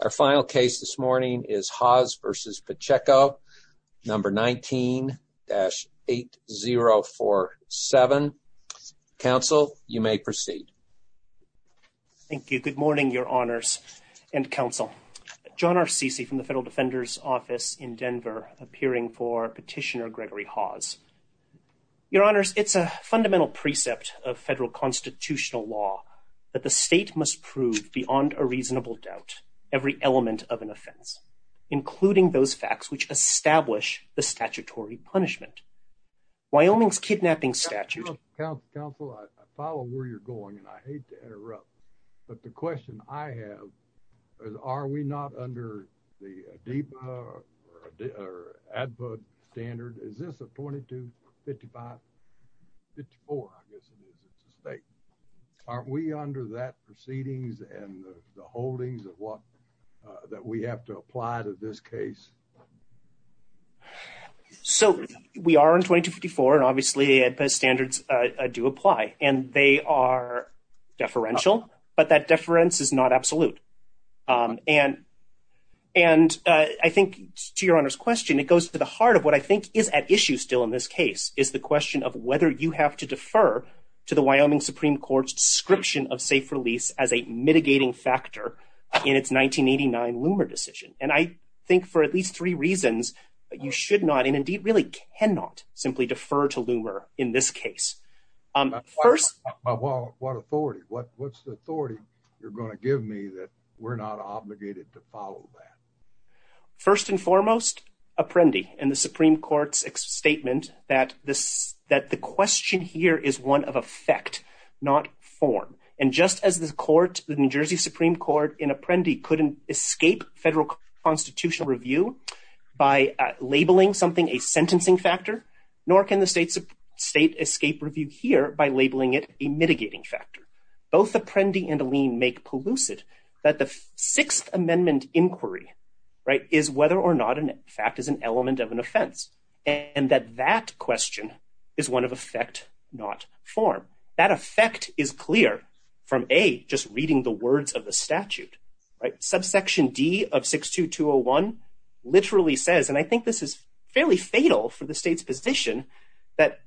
Our final case this morning is Hawes v. Pacheco, number 19-8047. Counsel, you may proceed. Thank you. Good morning, Your Honors and Counsel. John R. Ceci from the Federal Defender's Office in Denver, appearing for Petitioner Gregory Hawes. Your Honors, it's a fundamental precept of federal constitutional law that the state must prove beyond a reasonable doubt every element of an offense, including those facts which establish the statutory punishment. Wyoming's kidnapping statute— Counsel, I follow where you're going, and I hate to interrupt, but the question I have is, are we not under the ADEPA or ADPUD standard? Is this a 22-55-54? I guess it is. It's a state. Aren't we under that proceedings and the holdings that we have to apply to this case? So, we are in 22-54, and obviously the ADEPA standards do apply, and they are deferential, but that deference is not absolute. And I think, to Your Honor's question, it goes to the heart of what I think is at issue still in this case, is the question of whether you have to defer to the Wyoming Supreme Court's description of safe release as a mitigating factor in its 1989 Loomer decision. And I think for at least three reasons, you should not, and indeed really cannot, simply defer to Loomer in this case. What authority? What's the authority you're going to give me that we're not obligated to follow that? First and foremost, Apprendi and the Supreme Court's statement that the question here is one of effect, not form. And just as the court, the New Jersey Supreme Court and Apprendi couldn't escape federal constitutional review by labeling something a sentencing factor, nor can the state escape review here by labeling it a mitigating factor. Both Apprendi and Aleem make pollucid that the Sixth Amendment inquiry is whether or not a fact is an element of an offense, and that that question is one of effect, not form. That effect is clear from A, just reading the words of the statute. Subsection D of 62201 literally says, and I think this is fairly fatal for the state's position, that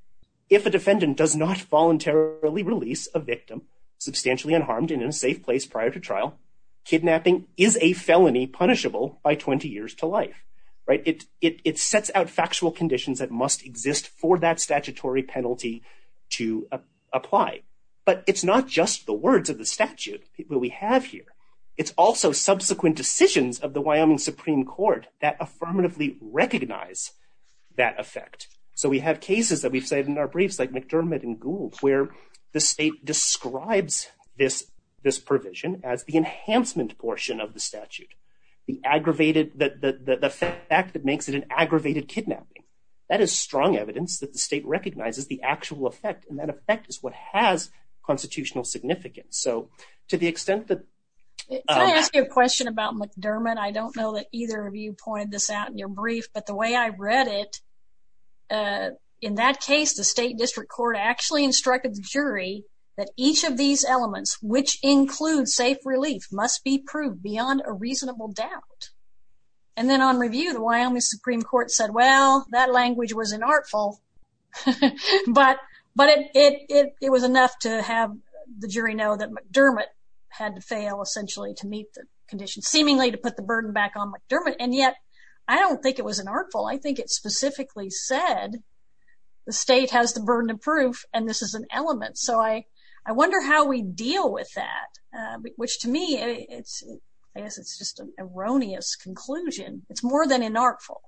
if a defendant does not voluntarily release a victim substantially unharmed and in a safe place prior to trial, kidnapping is a felony punishable by 20 years to life. It sets out factual conditions that must exist for that statutory penalty to apply. But it's not just the words of the statute that we have here. It's also subsequent decisions of the Wyoming Supreme Court that affirmatively recognize that effect. So we have cases that we've said in our briefs like McDermott and Gould, where the state describes this provision as the enhancement portion of the statute, the aggravated, the fact that makes it an aggravated kidnapping. That is strong evidence that the state recognizes the actual effect, and that effect is what has constitutional significance. So to the extent that... Can I ask you a question about McDermott? I don't know that either of you pointed this out in your brief, but the way I read it, in that case, the State District Court actually instructed the jury that each of these elements, which include safe relief, must be proved beyond a reasonable doubt. And then on review, the Wyoming Supreme Court said, well, that language was an artful, but it was enough to have the jury know that McDermott had to fail essentially to meet the conditions, seemingly to put the burden back on McDermott. And yet, I don't think it was an artful. I think it specifically said the state has the burden of proof, and this is an element. So I wonder how we deal with that, which to me, I guess it's just an erroneous conclusion. It's more than an artful.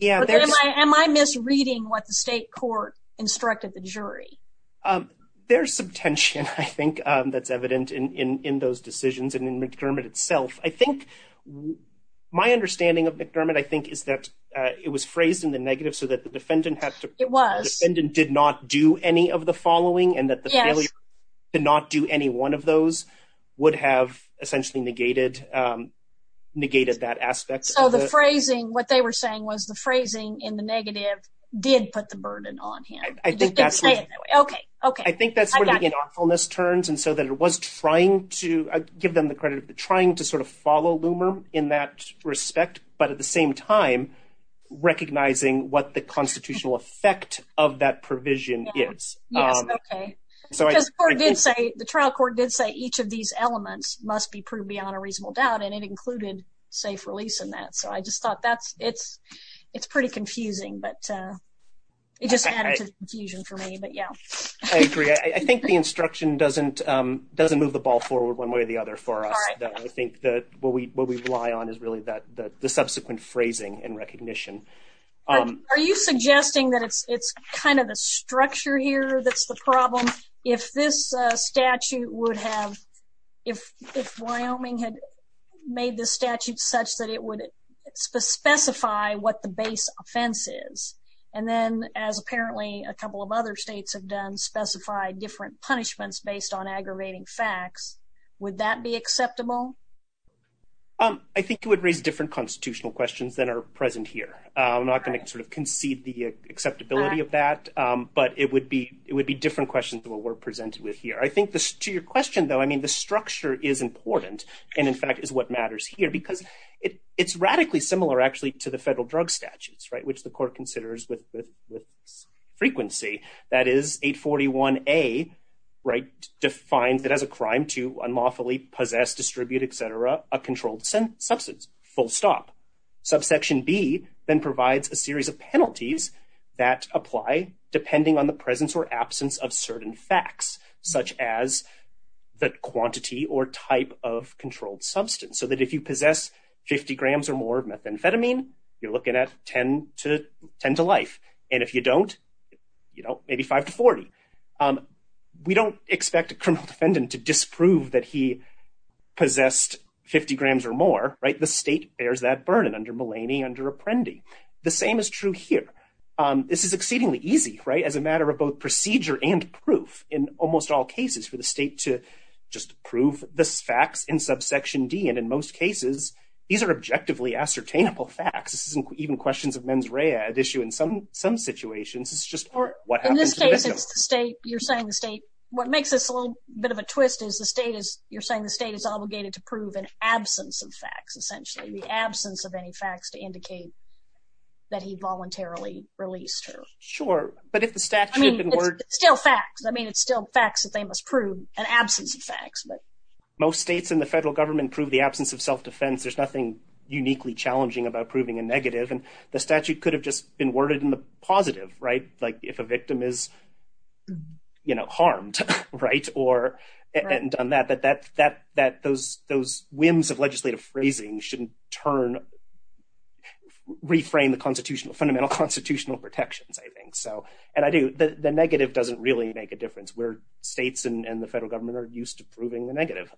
Am I misreading what the state court instructed the jury? There's some tension, I think, that's evident in those decisions and in McDermott itself. I think my understanding of McDermott, I think, is that it was phrased in the negative so that the defendant did not do any of the following, and that the failure to not do any one of those would have essentially negated that aspect. So the phrasing, what they were saying was the phrasing in the negative did put the burden on him. I think that's where the artfulness turns, and so that it was trying to, I give them the credit, trying to sort of follow Loomer in that respect, but at the same time recognizing what the constitutional effect of that provision is. Yes, okay. The trial court did say each of these elements must be proved beyond a reasonable doubt, and it included safe release in that. So I just thought that's, it's pretty confusing, but it just added to the confusion for me, but yeah. I agree. I think the instruction doesn't move the ball forward one way or the other for us. I think that what we rely on is really the subsequent phrasing and recognition. Are you suggesting that it's kind of the structure here that's the problem? If this statute would have, if Wyoming had made this statute such that it would specify what the base offense is, and then as apparently a couple of other states have done, specified different punishments based on aggravating facts, would that be acceptable? I think it would raise different constitutional questions than are present here. I'm not going to sort of concede the acceptability of that, but it would be, it would be different questions than what we're presented with here. I think this, to your question though, I mean the structure is important, and in fact is what matters here, because it's radically similar actually to the federal drug statutes, right, which the court considers with frequency. That is 841A, right, defines it as a crime to unlawfully possess, distribute, etc., a controlled substance, full stop. Subsection B then provides a series of the quantity or type of controlled substance, so that if you possess 50 grams or more of methamphetamine, you're looking at 10 to, 10 to life, and if you don't, you know, maybe 5 to 40. We don't expect a criminal defendant to disprove that he possessed 50 grams or more, right, the state bears that burden under Mulaney, under Apprendi. The same is true here. This is exceedingly easy, right, as a matter of both procedure and proof in almost all cases for the state to just prove this facts in subsection D, and in most cases, these are objectively ascertainable facts. This isn't even questions of mens rea at issue in some, some situations. It's just what happens. In this case, it's the state, you're saying the state, what makes this a little bit of a twist is the state is, you're saying the state is obligated to prove an absence of facts, essentially the but if the statute still facts, I mean, it's still facts that they must prove an absence of facts, but most states in the federal government prove the absence of self-defense, there's nothing uniquely challenging about proving a negative and the statute could have just been worded in the positive, right, like if a victim is, you know, harmed, right, or, and on that, that, that, that those, those whims of legislative phrasing shouldn't turn, reframe the constitutional, fundamental constitutional protections, I think, so, and I do, the, the negative doesn't really make a difference where states and, and the federal government are used to proving the negative.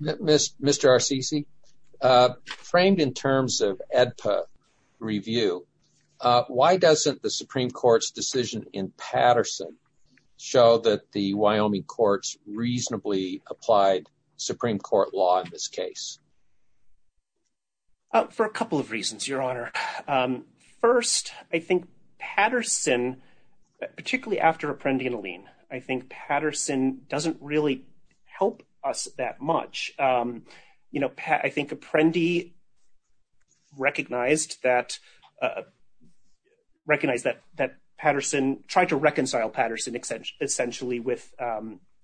Mr. Arcisi, framed in terms of AEDPA review, why doesn't the Supreme Court's decision in Patterson show that the Wyoming courts reasonably applied Supreme Court law in this case? Oh, for a couple of reasons, Your Honor. First, I think Patterson, particularly after Apprendi and Allene, I think Patterson doesn't really help us that much. You know, I think Apprendi recognized that, recognized that, that Patterson tried to reconcile Patterson, essentially, with,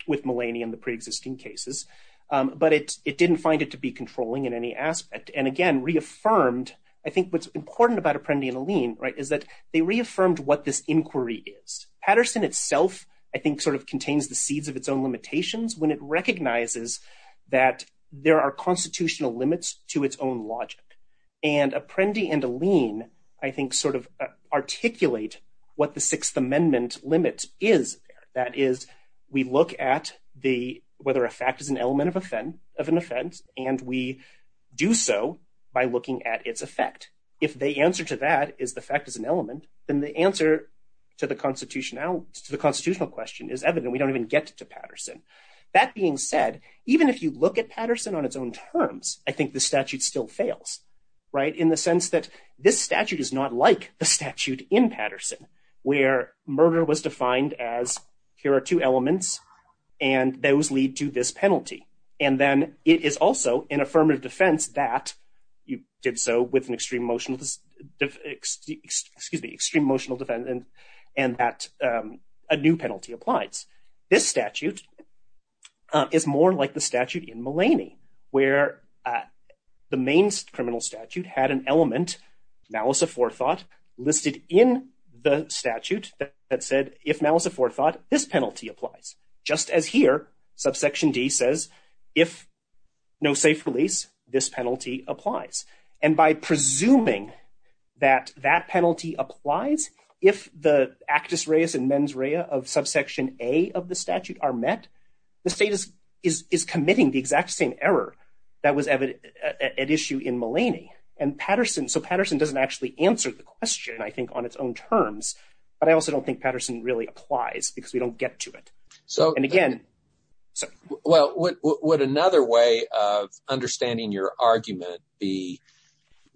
with Mullaney and the pre-existing cases, but it, it didn't find it to be controlling in any aspect. And again, reaffirmed, I think what's important about Apprendi and Allene, right, is that they reaffirmed what this inquiry is. Patterson itself, I think, sort of contains the seeds of its own limitations when it recognizes that there are constitutional limits to its own logic. And Apprendi and Allene, I think, sort of articulate what the Sixth Amendment limit is, that is, we look at the, whether a fact is an element of offense, of an offense, and we do so by looking at its effect. If the answer to that is the fact is an element, then the answer to the constitutionality, to the constitutional question is evident. We don't even get to Patterson. That being said, even if you look at Patterson on its own terms, I think the statute still fails, right, in the sense that this statute is not like the statute in Patterson, where murder was defined as here are two elements, and those lead to this penalty. And then it is also an affirmative defense that you did so with an extreme emotional, excuse me, extreme emotional defense, and that a new penalty applies. This statute is more like the statute in Mullaney, where the main criminal statute had an element, now as a forethought, listed in the statute that said, if now as a forethought, this penalty applies. Just as here, subsection D says, if no safe release, this penalty applies. And by presuming that that penalty applies, if the actus reus and mens rea of subsection A of the statute are met, the state is committing the exact same error that was evident at issue in Mullaney. And Patterson, so Patterson doesn't actually answer the question, I think, on its own terms, but I also don't think Patterson really applies, because we don't get to it. So, and again, well, would another way of understanding your argument be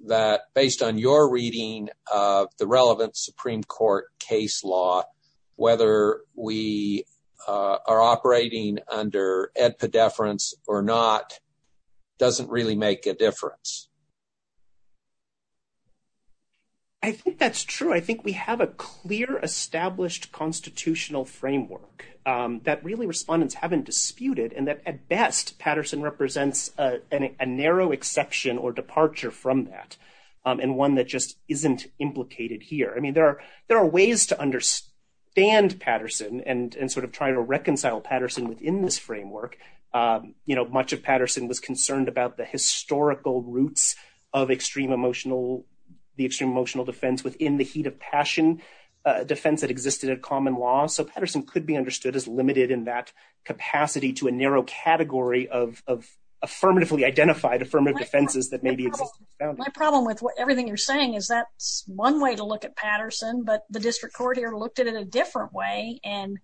that based on your reading of the relevant Supreme Court case law, whether we are operating under edpedeference or not, doesn't really make a difference? I think that's true. I think we have a clear, established constitutional framework that really respondents haven't disputed, and that at best, Patterson represents a narrow exception or departure from that, and one that just isn't implicated here. I mean, there are ways to understand Patterson and sort of try to reconcile Patterson within this framework. You know, much of Patterson was concerned about the historical roots of extreme emotional, the extreme emotional defense within the heat of passion defense that existed at common law, so Patterson could be understood as limited in that capacity to a narrow category of affirmatively identified affirmative defenses that maybe exist. My problem with everything you're saying is that's one way to look at Patterson, but the district court here looked at it a different way, and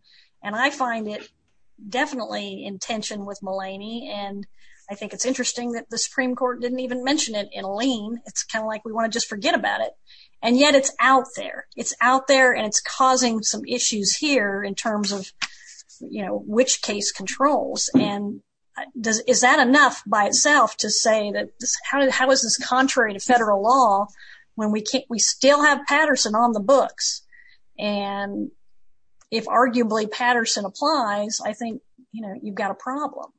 I find it definitely in tension with Mulaney, and I think it's interesting that the Supreme Court didn't even mention it in Lean. It's kind of like we want to just forget about it, and yet it's out there. It's out there, and it's causing some issues here in terms of, you know, which case controls, and is that enough by itself to say that how is this if arguably Patterson applies? I think, you know, you've got a problem.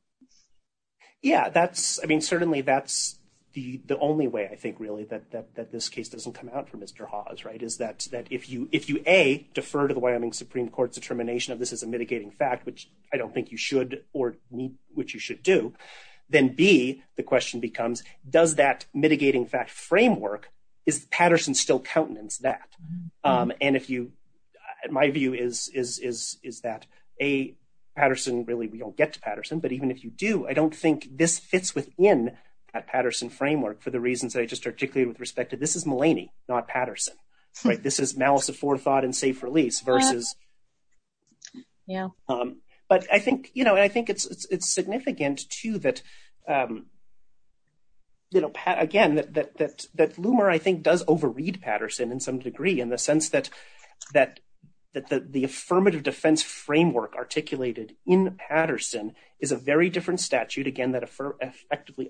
Yeah, that's, I mean, certainly that's the only way I think really that this case doesn't come out for Mr. Hawes, right, is that if you, A, defer to the Wyoming Supreme Court's determination of this is a mitigating fact, which I don't think you should or need, which you should do, then B, the question becomes does that mitigating fact framework, is Patterson still that? And if you, my view is that A, Patterson, really we don't get to Patterson, but even if you do, I don't think this fits within that Patterson framework for the reasons that I just articulated with respect to this is Mulaney, not Patterson, right? This is malice of forethought and safe release versus, yeah, but I think, you know, I think it's significant too that, you know, again, that Lumer, I think, does overread Patterson in some degree in the sense that the affirmative defense framework articulated in Patterson is a very different statute, again, that effectively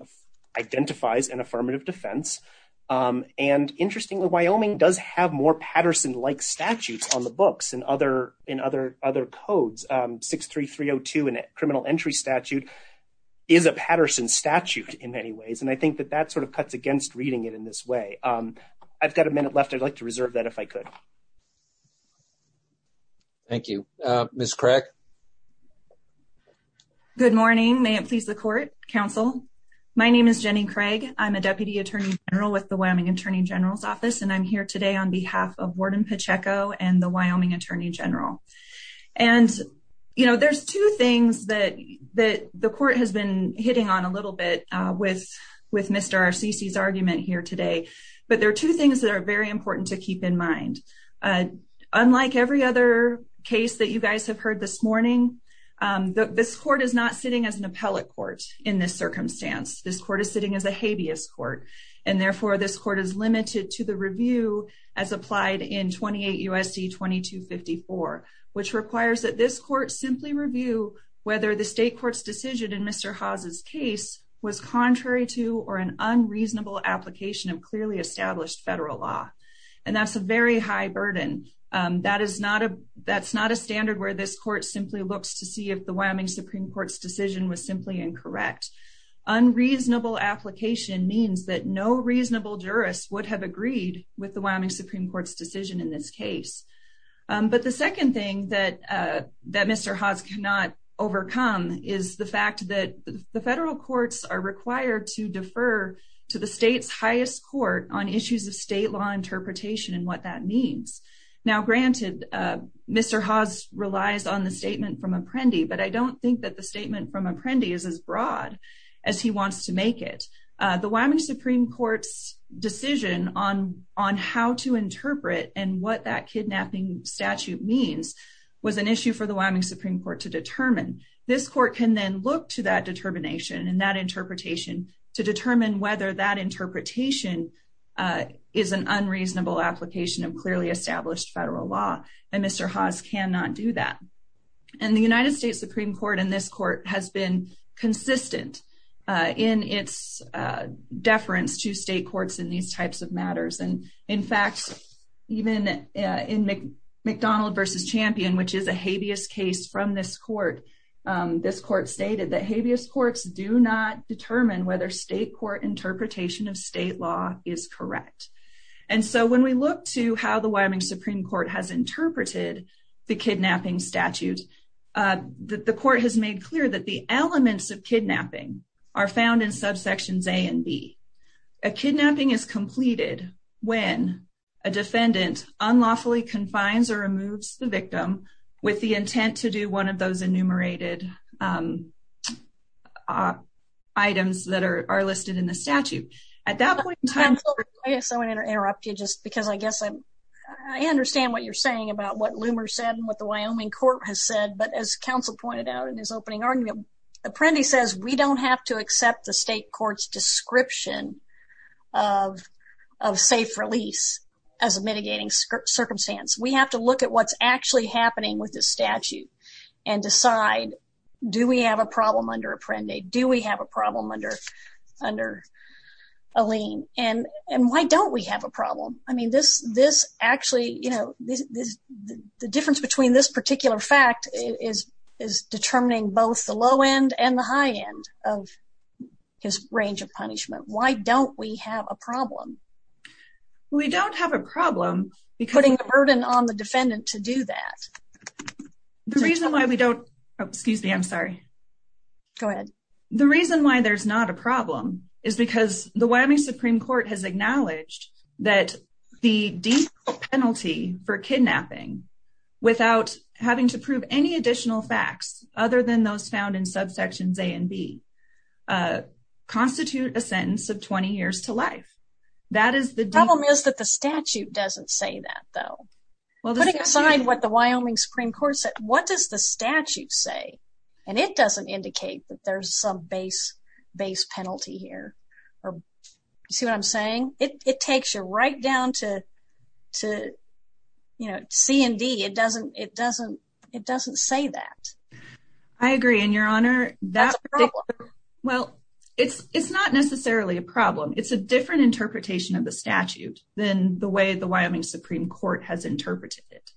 identifies an affirmative defense. And interestingly, Wyoming does have more Patterson-like statutes on the books and other codes. 63302 in a criminal entry statute is a Patterson statute in many ways. And I think that that sort of cuts against reading it in this way. I've got a minute left. I'd like to reserve that if I could. Thank you. Ms. Craig. Good morning. May it please the court, counsel. My name is Jenny Craig. I'm a deputy attorney general with the Wyoming attorney general's office. And I'm here today on behalf of Warden Pacheco and the Wyoming attorney general. And, you know, there's two things that the court has been hitting on a little bit with Mr. Arcisi's argument here today. But there are two things that are very important to keep in mind. Unlike every other case that you guys have heard this morning, this court is not sitting as an appellate court in this circumstance. This court is sitting as a habeas court. And therefore this court is limited to the review as applied in 28 USD 2254, which requires that this court simply review whether the state court's decision in Mr. Haas's case was contrary to or an unreasonable application of clearly established federal law. And that's a very high burden. That is not a that's not a standard where this court simply looks to see if the Wyoming Supreme Court's decision was simply incorrect. unreasonable application means that no reasonable jurists would have agreed with the Wyoming Supreme Court's decision in this case. But the second thing that that Mr. Haas cannot overcome is the fact that the federal courts are required to defer to the state's highest court on issues of state law I don't think that the statement from Apprendi is as broad as he wants to make it. The Wyoming Supreme Court's decision on on how to interpret and what that kidnapping statute means was an issue for the Wyoming Supreme Court to determine. This court can then look to that determination and that interpretation to determine whether that interpretation is an unreasonable application of established federal law. And Mr. Haas cannot do that. And the United States Supreme Court in this court has been consistent in its deference to state courts in these types of matters. And in fact, even in McDonald versus Champion, which is a habeas case from this court, this court stated that habeas courts do not determine whether state court interpretation of state law is correct. And so when we look to how the Wyoming Supreme Court has interpreted the kidnapping statute, the court has made clear that the elements of kidnapping are found in subsections A and B. A kidnapping is completed when a defendant unlawfully confines or removes the victim with the intent to do one of those enumerated items that are listed in the statute. At that point, I guess I want to interrupt you just because I guess I understand what you're saying about what Loomer said and what the Wyoming court has said. But as counsel pointed out in his opening argument, Apprendi says we don't have to accept the state court's description of of safe release as a mitigating circumstance. We have to look at what's actually happening with this statute and decide, do we have a problem under Apprendi? Do we have a problem under under Alene? And and why don't we have a problem? I mean this this actually, you know, this the difference between this particular fact is is determining both the low end and the high end of his range of punishment. Why don't we have a problem? We don't have a problem because putting the burden on the defendant to do that. The reason why we don't, excuse me, I'm sorry. Go ahead. The reason why there's not a problem is because the Wyoming Supreme Court has acknowledged that the deep penalty for kidnapping without having to prove any additional facts other than those found in subsections A and B constitute a sentence of 20 years to life. That is the problem is that the statute doesn't say that though. Putting aside what the Wyoming Supreme Court said, what does the statute say? And it doesn't indicate that there's some base base penalty here or you see what I'm saying? It it takes you right down to to you know C and D. It doesn't it doesn't it doesn't say that. I agree and your honor that's a problem. Well it's it's not necessarily a problem. It's a different interpretation of the statute than the way Wyoming Supreme Court has interpreted it.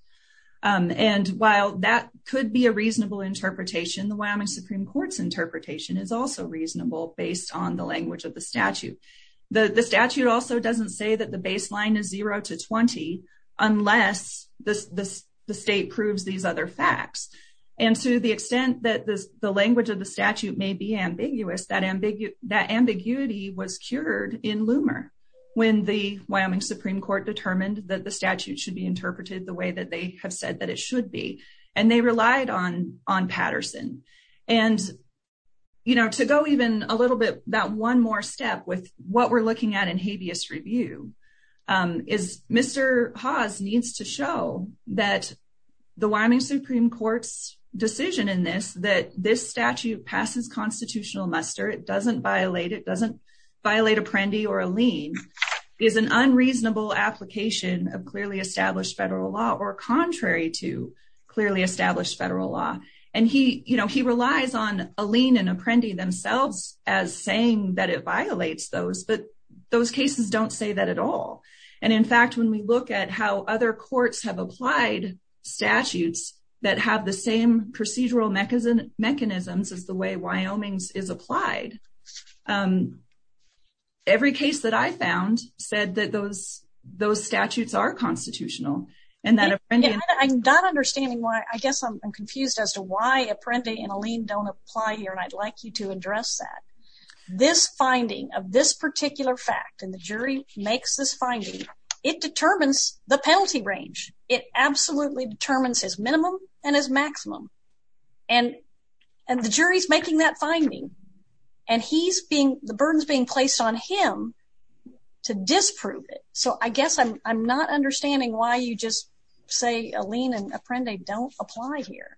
And while that could be a reasonable interpretation, the Wyoming Supreme Court's interpretation is also reasonable based on the language of the statute. The statute also doesn't say that the baseline is zero to 20 unless the state proves these other facts. And to the extent that the language of the statute may be ambiguous, that ambiguity was cured in Loomer when the Wyoming Supreme Court determined that the statute should be interpreted the way that they have said that it should be. And they relied on on Patterson. And you know to go even a little bit that one more step with what we're looking at in habeas review is Mr. Hawes needs to show that the Wyoming Supreme Court's decision in this that this violate apprendi or a lien is an unreasonable application of clearly established federal law or contrary to clearly established federal law. And he you know he relies on a lien and apprendi themselves as saying that it violates those but those cases don't say that at all. And in fact when we look at how other courts have applied statutes that have the same procedural mechanism mechanisms as the way Wyoming's is applied, every case that I found said that those those statutes are constitutional. And that I'm not understanding why I guess I'm confused as to why apprendi and a lien don't apply here and I'd like you to address that. This finding of this particular fact and the jury makes this finding it determines the penalty range. It absolutely determines his and the jury's making that finding and he's being the burden is being placed on him to disprove it. So I guess I'm not understanding why you just say a lien and apprendi don't apply here.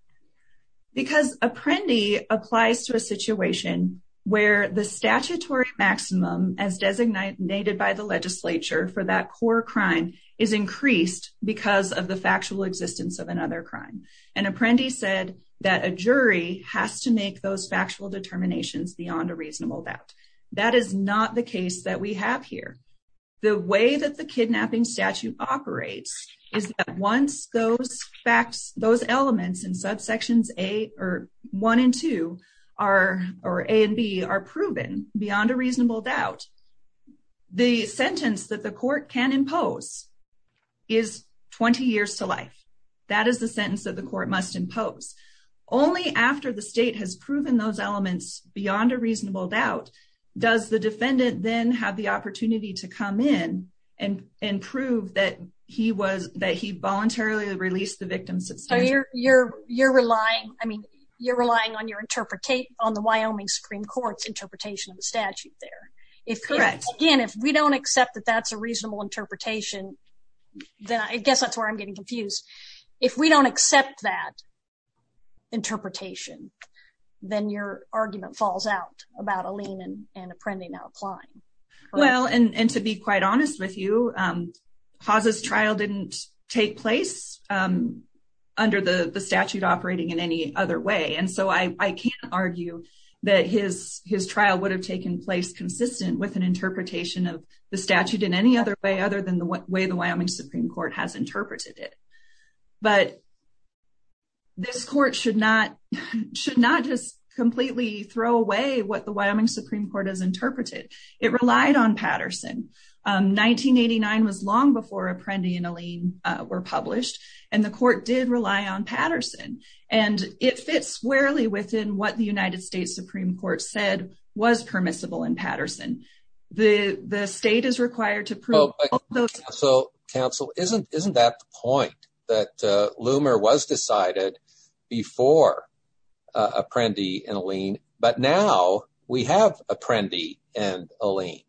Because apprendi applies to a situation where the statutory maximum as designated by the legislature for that core crime is increased because of the factual existence of another crime. And apprendi said that a jury has to make those factual determinations beyond a reasonable doubt. That is not the case that we have here. The way that the kidnapping statute operates is that once those facts those elements in subsections a or one and two are or a and b are proven beyond a reasonable doubt the sentence that the court can impose is 20 years to life. That is the sentence the court must impose. Only after the state has proven those elements beyond a reasonable doubt does the defendant then have the opportunity to come in and prove that he was that he voluntarily released the victim. So you're you're you're relying I mean you're relying on your interpret on the Wyoming Supreme Court's interpretation of the statute there. If correct again if we don't accept that that's a reasonable interpretation then I guess that's where I'm getting confused. If we don't accept that interpretation then your argument falls out about Aline and apprendi now applying. Well and and to be quite honest with you um Hawza's trial didn't take place um under the the statute operating in any other way and so I I can't argue that his his trial would have taken place consistent with an interpretation of the statute in any other way other than the way the but this court should not should not just completely throw away what the Wyoming Supreme Court has interpreted. It relied on Patterson um 1989 was long before Apprendi and Aline were published and the court did rely on Patterson and it fits squarely within what the United States Supreme Court said was permissible in Patterson. The the state is that uh Loomer was decided before uh Apprendi and Aline but now we have Apprendi and Aline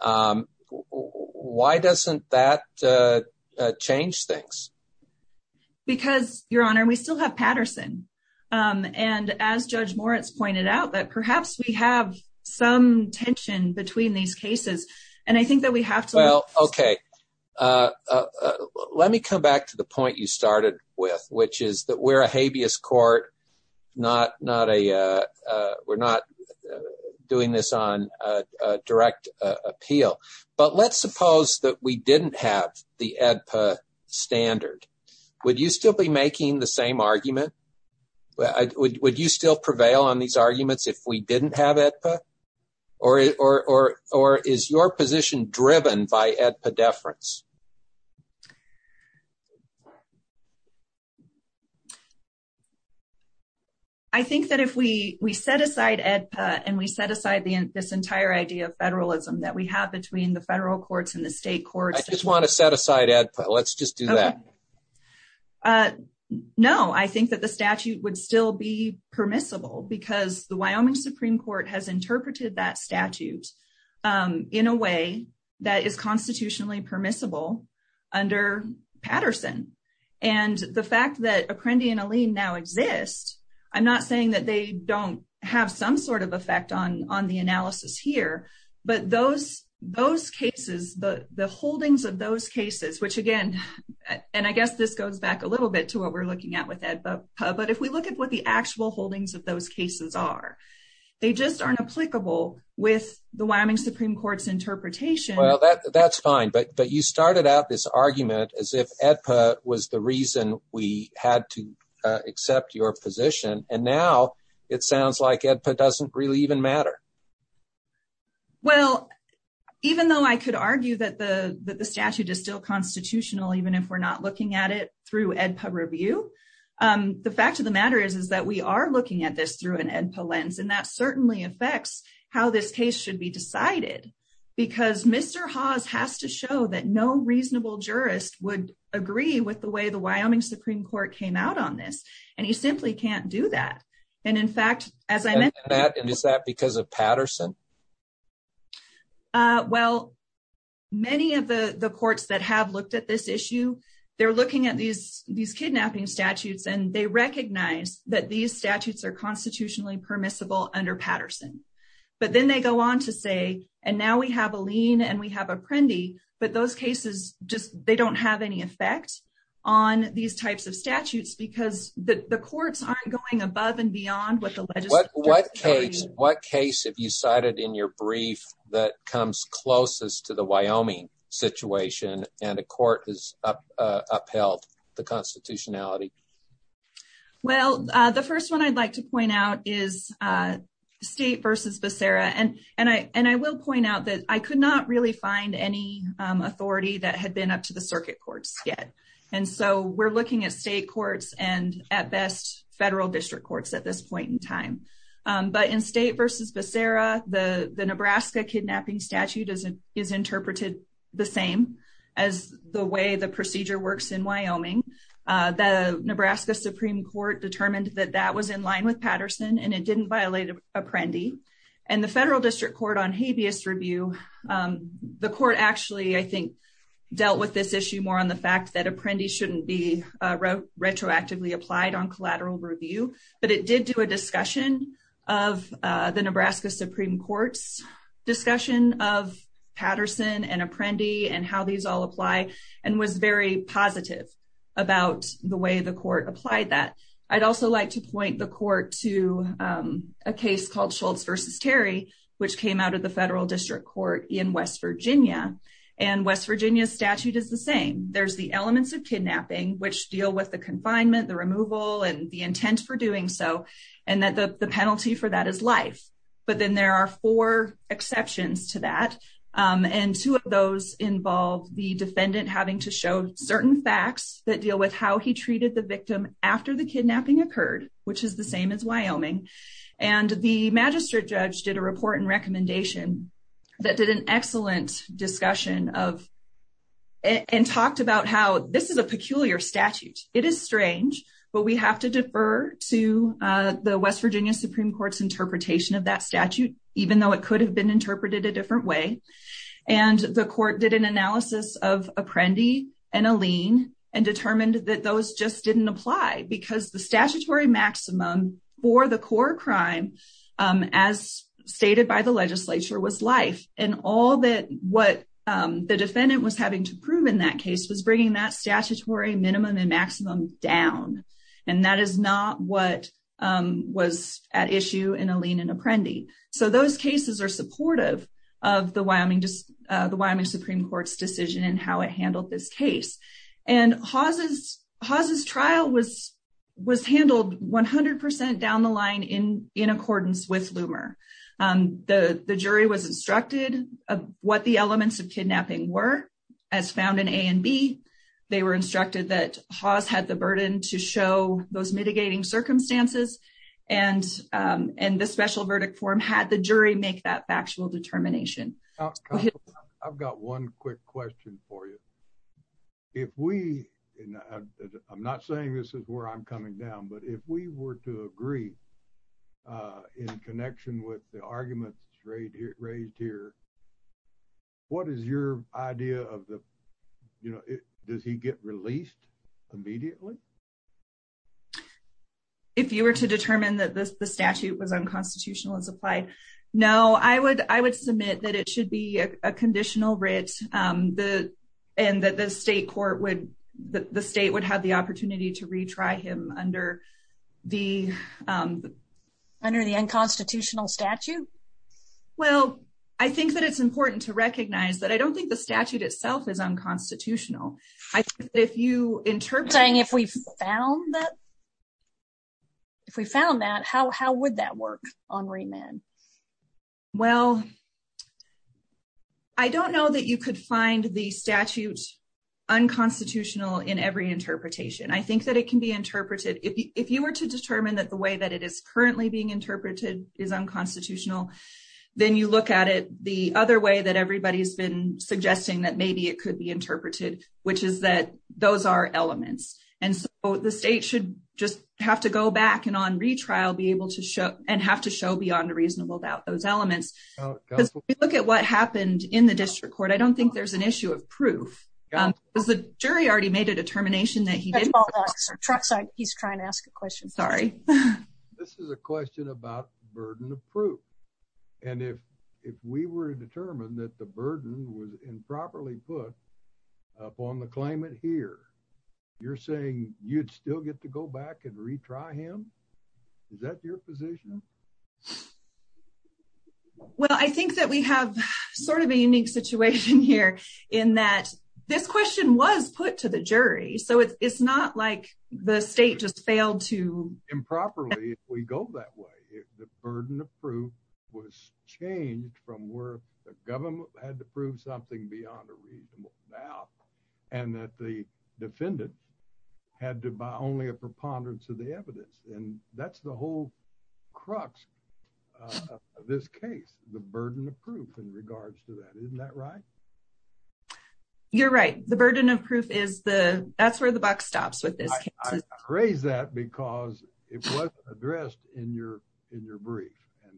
um why doesn't that uh change things? Because your honor we still have Patterson um and as Judge Moritz pointed out that perhaps we have some tension between these cases and I think that Well okay uh let me come back to the point you started with which is that we're a habeas court not not a uh we're not doing this on a direct appeal but let's suppose that we didn't have the AEDPA standard. Would you still be making the same argument? Would you still prevail on these arguments if we didn't have AEDPA or or or is your position driven by AEDPA deference? I think that if we we set aside AEDPA and we set aside the this entire idea of federalism that we have between the federal courts and the state courts. I just want to set aside AEDPA let's do that. No I think that the statute would still be permissible because the Wyoming Supreme Court has interpreted that statute um in a way that is constitutionally permissible under Patterson and the fact that Apprendi and Aline now exist I'm not saying that they don't have some sort of effect on on the analysis here but those those cases the the holdings of those cases which again and I guess this goes back a little bit to what we're looking at with AEDPA but if we look at what the actual holdings of those cases are they just aren't applicable with the Wyoming Supreme Court's interpretation. Well that that's fine but but you started out this argument as if AEDPA was the reason we had to accept your position and now it sounds like AEDPA doesn't really even matter. Well even though I could argue that the that the statute is still constitutional even if we're not looking at it through AEDPA review um the fact of the matter is is that we are looking at this through an AEDPA lens and that certainly affects how this case should be decided because Mr. Haas has to show that no reasonable jurist would agree with the way the Wyoming Supreme Court came out on this and you simply can't do that and in fact as I meant that and is that because of Patterson? Well many of the the courts that have looked at this issue they're looking at these these kidnapping statutes and they recognize that these statutes are constitutionally permissible under Patterson but then they go on to say and now we have a lien and we have a Prendy but those cases just they don't have any effect on these types of statutes because the the courts aren't going above and beyond what the legislature what case what case have you cited in your brief that comes closest to the Wyoming situation and a court has up uh upheld the constitutionality? Well uh the first one I'd like to point out is uh State versus Becerra and and I and I will point out that I could not really find any um authority that had been up to the circuit courts yet and so we're looking at state courts and at best federal district courts at this point in time but in State versus Becerra the the Nebraska kidnapping statute is interpreted the same as the way the procedure works in Wyoming. The Nebraska Supreme Court determined that that was in line with Patterson and it didn't violate a Prendy and the federal district court on habeas review um the court actually I think dealt with this issue more on the fact that a Prendy shouldn't be retroactively applied on collateral review but it did do a discussion of the Nebraska Supreme Court's discussion of Patterson and a Prendy and how these all apply and was very positive about the way the court applied that. I'd also like to point the court to um a case called Schultz versus Terry which came out of the federal district court in West Virginia and West Virginia's same there's the elements of kidnapping which deal with the confinement the removal and the intent for doing so and that the the penalty for that is life but then there are four exceptions to that um and two of those involve the defendant having to show certain facts that deal with how he treated the victim after the kidnapping occurred which is the same as Wyoming and the magistrate did a report and recommendation that did an excellent discussion of and talked about how this is a peculiar statute it is strange but we have to defer to uh the West Virginia Supreme Court's interpretation of that statute even though it could have been interpreted a different way and the court did an analysis of a Prendy and a lien and determined that those just didn't apply because the statutory maximum for the core crime as stated by the legislature was life and all that what the defendant was having to prove in that case was bringing that statutory minimum and maximum down and that is not what was at issue in a lien and a Prendy so those cases are supportive of the Wyoming just the Wyoming Supreme Court's decision and how it handled this case and Haas's Haas's trial was was handled 100 percent down the line in in accordance with Lumer um the the jury was instructed of what the elements of kidnapping were as found in a and b they were instructed that Haas had the burden to show those mitigating circumstances and um and the special verdict form had the jury make that factual determination oh i've got one quick question for you if we and i'm not saying this is where i'm coming down but if we were to agree uh in connection with the arguments straight here raised here what is your idea of the you know it does he get released immediately if you were to determine that this the statute was unconstitutional as applied no i would i would submit that it should be a conditional writ um the and that the state court would the state would have the opportunity to retry him under the um under the unconstitutional statute well i think that it's important to recognize that i don't think the statute itself is unconstitutional i think if you interpreting if we found that if we found that how how would that work on remand well i don't know that you could find the statute unconstitutional in every interpretation i think that it can be interpreted if you were to determine that the way that it is currently being interpreted is unconstitutional then you look at it the other way that everybody has been suggesting that maybe it could be interpreted which is that those are elements and so the state should just have to go back and on retrial be able to show and have to show beyond a reasonable doubt those elements because we look at what happened in the district court i don't think there's an issue of proof um because the jury already made a determination that he didn't he's trying to ask a question sorry this is a question about burden of proof and if if we were determined that the burden was improperly put up on the claimant here you're saying you'd still get to go back and retry him is that your position well i think that we have sort of a unique situation here in that this question was put to the jury so it's not like the state just failed to improperly if we go that way the burden of proof was changed from where the government had to prove something beyond a doubt and that the defendant had to buy only a preponderance of the evidence and that's the whole crux of this case the burden of proof in regards to that isn't that right you're right the burden of proof is the that's where the buck stops with this i praise that because it wasn't addressed in your in your brief and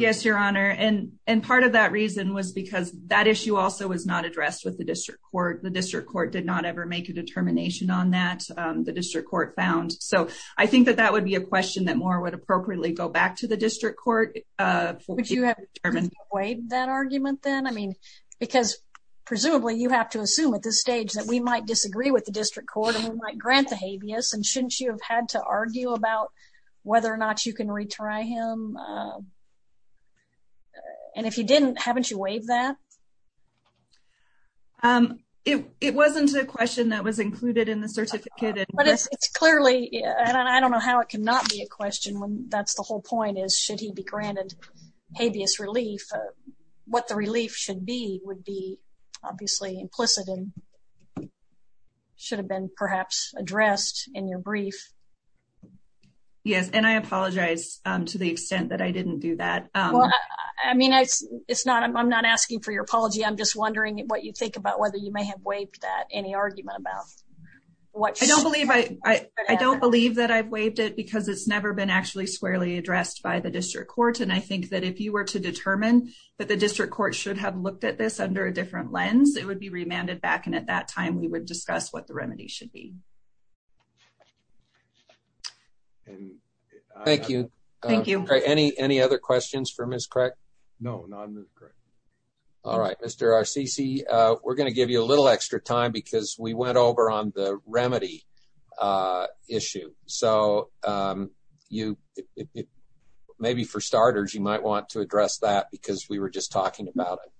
yes your honor and and part of that reason was because that issue also was not addressed with the district court the district court did not ever make a determination on that the district court found so i think that that would be a question that more would appropriately go back to the district court uh would you have determined waived that argument then i mean because presumably you have to assume at this stage that we might disagree with the district court and we might grant the habeas and shouldn't you have had to um it it wasn't a question that was included in the certificate but it's it's clearly and i don't know how it cannot be a question when that's the whole point is should he be granted habeas relief what the relief should be would be obviously implicit and should have been perhaps addressed in your brief yes and i apologize um to the extent that i for your apology i'm just wondering what you think about whether you may have waived that any argument about what i don't believe i i don't believe that i've waived it because it's never been actually squarely addressed by the district court and i think that if you were to determine that the district court should have looked at this under a different lens it would be remanded back and at that time we would discuss what the remedy should be and thank you thank you okay any any other questions for miss correct no not correct all right mr rcc uh we're going to give you a little extra time because we went over on the remedy uh issue so um you it maybe for starters you might want to address that because we were just talking about it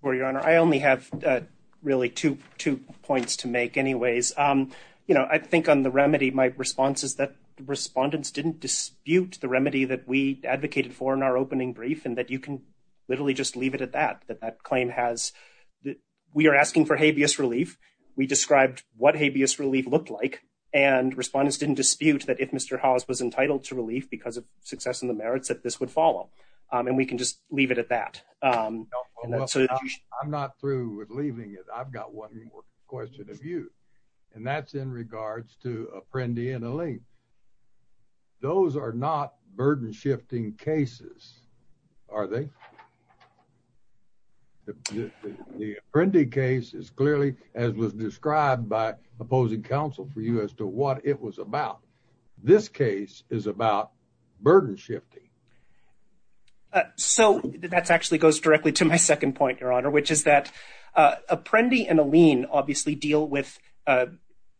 for your honor i only have uh really two two points to make anyways um you know i think on the remedy my response is that respondents didn't dispute the remedy that we advocated for in our opening brief and that you can literally just leave it at that that that claim has that we are asking for habeas relief we described what habeas relief looked like and respondents didn't dispute that if mr haas was entitled to relief because of success in the merits that this would follow um and we can just leave it at that um i'm not through with leaving it i've got one more question of you and that's in regards to apprendi and elaine those are not burden shifting cases are they the apprendi case is clearly as was described by opposing counsel for you as to what it was about this case is about burden shifting uh so that's actually goes directly to my second point your which is that uh apprendi and elaine obviously deal with uh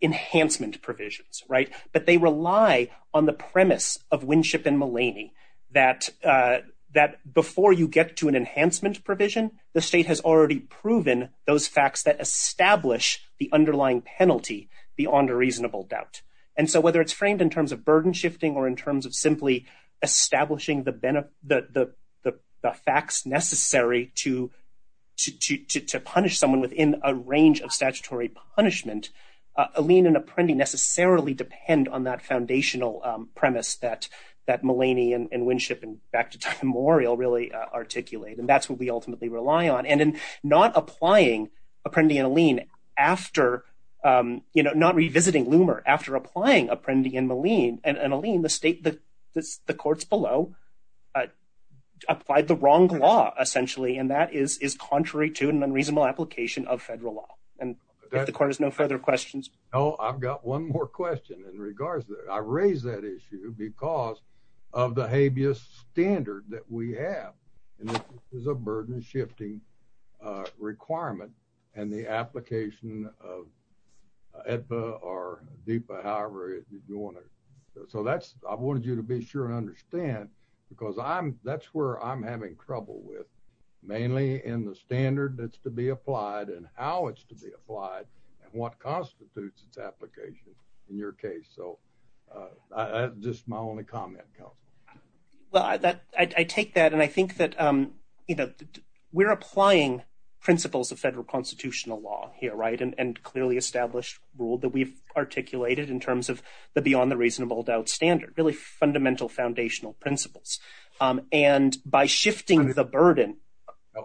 enhancement provisions right but they rely on the premise of winship and mulaney that uh that before you get to an enhancement provision the state has already proven those facts that establish the underlying penalty beyond a reasonable doubt and so whether it's framed in terms of burden shifting or in terms of simply establishing the benefit the the the facts necessary to to to punish someone within a range of statutory punishment uh elaine and apprendi necessarily depend on that foundational premise that that mulaney and winship and back to time memorial really articulate and that's what we ultimately rely on and in not applying apprendi and elaine after um you know not below uh applied the wrong law essentially and that is is contrary to an unreasonable application of federal law and if the court has no further questions oh i've got one more question in regards that i raised that issue because of the habeas standard that we have and this is a burden shifting uh requirement and the application of edpa or dpa however you want it so that's i because i'm that's where i'm having trouble with mainly in the standard that's to be applied and how it's to be applied and what constitutes its application in your case so uh just my only comment council well i that i take that and i think that um you know we're applying principles of federal constitutional law here right and clearly established rule that we've articulated in terms of the beyond the reasonable doubt standard really fundamental foundational principles um and by shifting the burden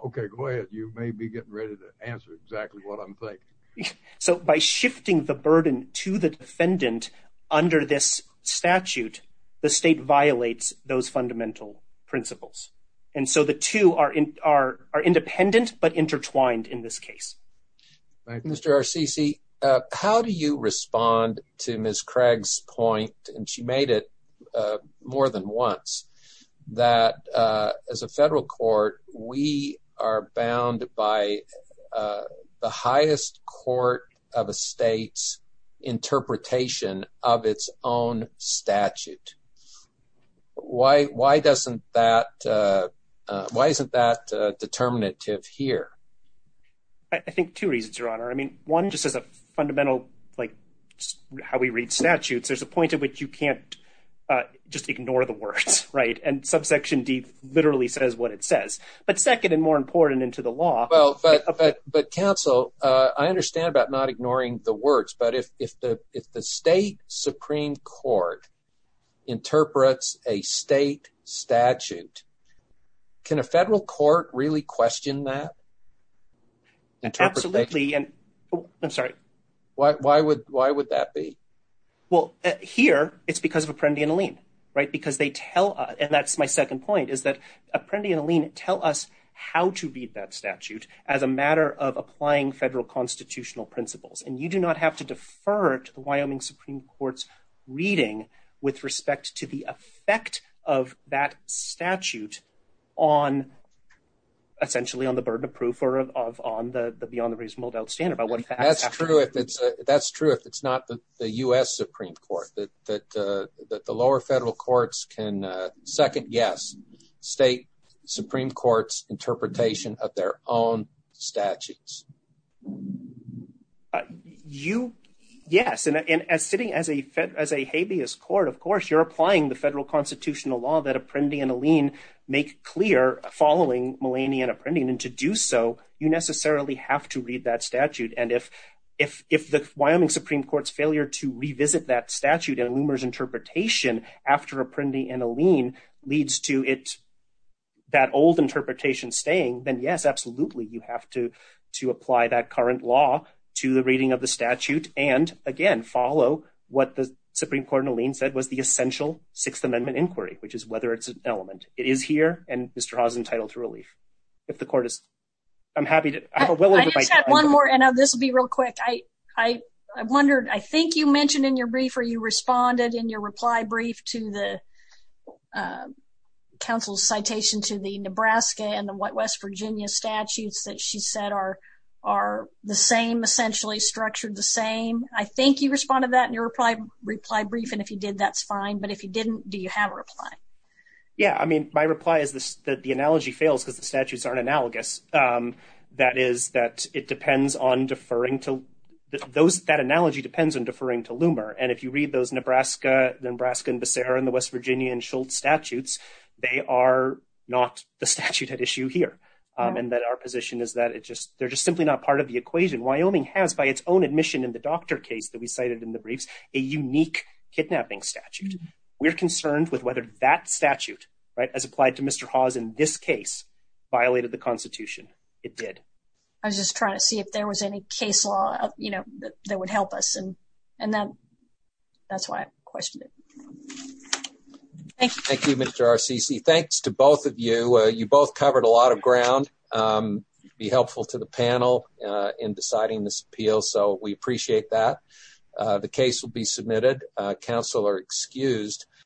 okay go ahead you may be getting ready to answer exactly what i'm thinking so by shifting the burden to the defendant under this statute the state violates those fundamental principles and so the two are in are are independent but intertwined in this case right mr rcc uh how do you respond to miss craig's point and she made it uh more than once that uh as a federal court we are bound by uh the highest court of a state's interpretation of its own statute why why doesn't that uh why isn't that uh determinative here i think two reasons your honor i mean one just as a fundamental like how we read statutes there's a point at which you can't uh just ignore the words right and subsection d literally says what it says but second and more important into the law well but but council uh i understand about not ignoring the words but if if the if the state supreme court interprets a state statute can a federal court really question that absolutely and i'm sorry why why would why would that be well here it's because of apprendi and aline right because they tell and that's my second point is that apprendi and aline tell us how to read that statute as a matter of applying federal constitutional principles and you do not have to on essentially on the burden of proof or of on the beyond the reasonable doubt standard that's true if it's not the u.s supreme court that that uh that the lower federal courts can second guess state supreme court's interpretation of their own statutes you yes and as sitting as a fed as a habeas court of course you're applying the federal constitutional law that apprendi and aline make clear following millennia and apprendi and to do so you necessarily have to read that statute and if if if the wyoming supreme court's failure to revisit that statute and loomers interpretation after apprendi and aline leads to it that old interpretation staying then yes absolutely you have to to apply that current law to the reading and again follow what the supreme court aline said was the essential sixth amendment inquiry which is whether it's an element it is here and mr has entitled to relief if the court is i'm happy to have a little bit one more and this will be real quick i i i wondered i think you mentioned in your brief or you responded in your reply brief to the uh council's citation to the nebraska and west virginia statutes that she said are are the same essentially structured the same i think you responded that in your reply reply brief and if you did that's fine but if you didn't do you have a reply yeah i mean my reply is this that the analogy fails because the statutes aren't analogous um that is that it depends on deferring to those that analogy depends on deferring to loomer and if you read those nebraska nebraska and becerra and the west virginian schultz statutes they are not the statute at issue here and that our position is that it just they're just simply not part of the equation wyoming has by its own admission in the doctor case that we cited in the briefs a unique kidnapping statute we're concerned with whether that statute right as applied to mr haas in this case violated the constitution it did i was just trying to see if there was any case law you know that would help us and and then that's why i questioned it thank you thank you mr rcc thanks to both of you uh you both covered a lot of ground um be helpful to the panel uh in deciding this appeal so we appreciate that the case will be submitted uh council are excused